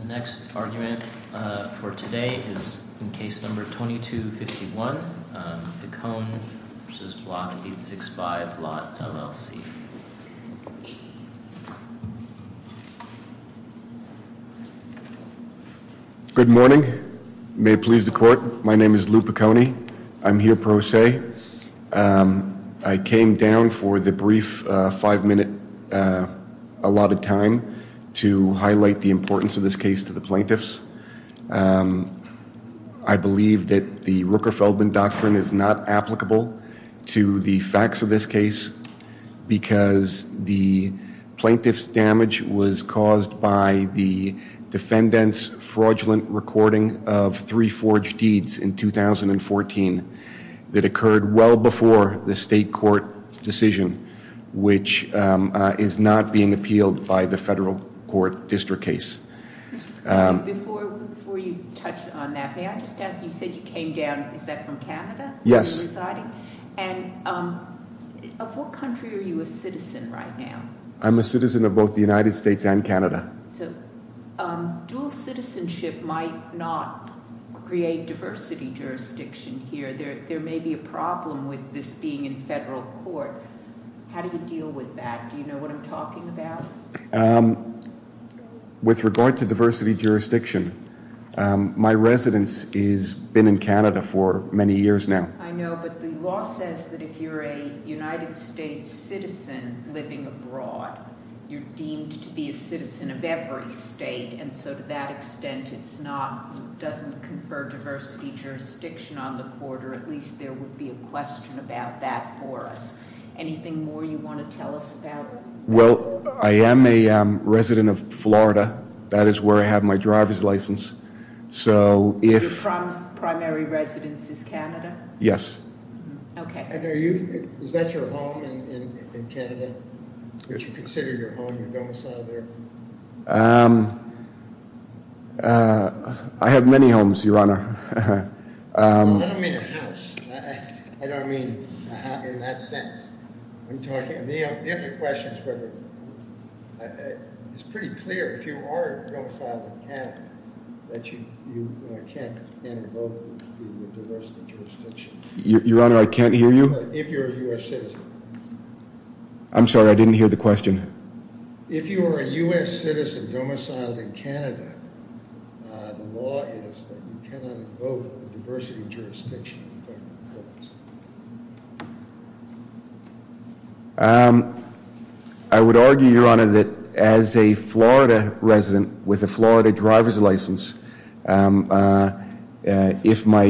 The next argument for today is in case number 2251 Pecone v. Block 865 LOT LLC. Good morning. May it please the court. My name is Lou Pecone. I'm here pro se. I came down for the brief five minute allotted time to highlight the importance of this case to the plaintiffs. I believe that the Rooker-Feldman Doctrine is not applicable to the facts of this case because the plaintiffs' damage was caused by the defendant's fraudulent recording of three forged deeds in 2014 that occurred well before the state court decision, which is not being appealed by the federal court district case. Before you touch on that, may I just ask, you said you came down, is that from Canada? Yes. And of what country are you a citizen right now? I'm a citizen of both the United States and Canada. Dual citizenship might not create diversity jurisdiction here. There may be a problem with this being in federal court. How do you deal with that? Do you know what I'm talking about? With regard to diversity jurisdiction, my residence has been in Canada for many years now. I know, but the law says that if you're a United States citizen living abroad, you're deemed to be a citizen of every state, and so to that extent it doesn't confer diversity jurisdiction on the court, or at least there would be a question about that for us. Anything more you want to tell us about? Well, I am a resident of Florida. That is where I have my driver's license. Your primary residence is Canada? Yes. Is that your home in Canada? Would you consider your home a domicile there? I have many homes, Your Honor. I don't mean a house. I don't mean a house in that sense. It's pretty clear if you are a domicile in Canada that you can't invoke diversity jurisdiction. Your Honor, I can't hear you? If you're a U.S. citizen. I'm sorry, I didn't hear the question. If you are a U.S. citizen domiciled in Canada, the law is that you cannot invoke diversity jurisdiction in federal courts. I would argue, Your Honor, that as a Florida resident with a Florida driver's license, if my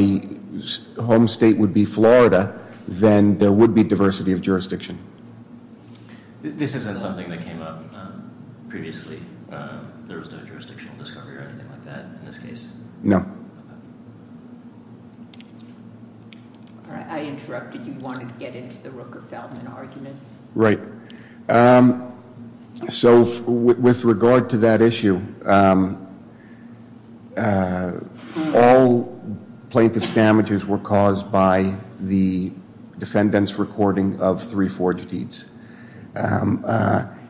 home state would be Florida, then there would be diversity of jurisdiction. This isn't something that came up previously? There was no jurisdictional discovery or anything like that in this case? No. I interrupted. You wanted to get into the Rooker-Feldman argument? Right. So with regard to that issue, all plaintiff's damages were caused by the defendant's recording of three forged deeds.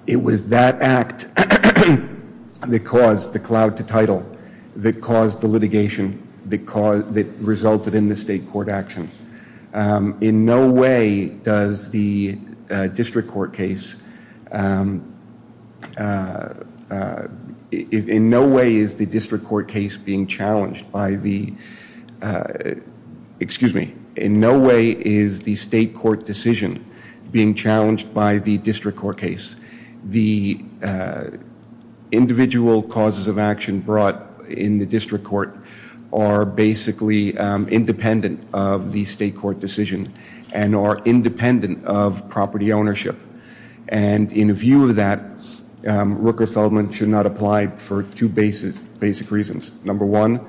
It was that act that caused the cloud to title, that caused the litigation, that resulted in the state court action. In no way does the district court case, in no way is the district court case being challenged by the, excuse me, in no way is the state court decision being challenged by the district court case. The individual causes of action brought in the district court are basically independent of the state court decision and are independent of property ownership. And in view of that, Rooker-Feldman should not apply for two basic reasons. Number one,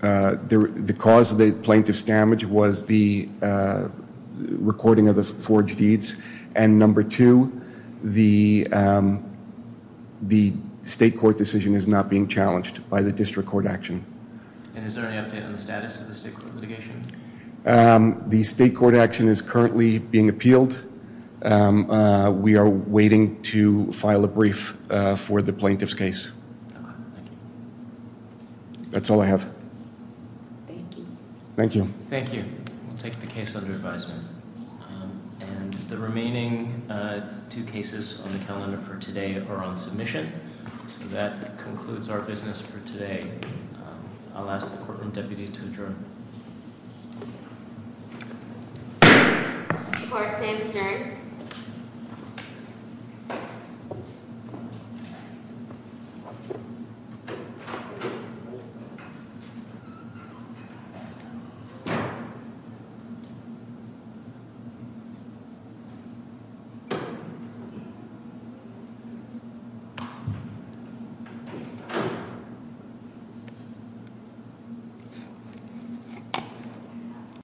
the cause of the plaintiff's damage was the recording of the forged deeds. And number two, the state court decision is not being challenged by the district court action. And is there any update on the status of the state court litigation? The state court action is currently being appealed. We are waiting to file a brief for the plaintiff's case. Okay. Thank you. That's all I have. Thank you. Thank you. Thank you. We'll take the case under advisement. And the remaining two cases on the calendar for today are on submission. So that concludes our business for today. I'll ask the court and deputy to adjourn. The court stands adjourned. Thank you.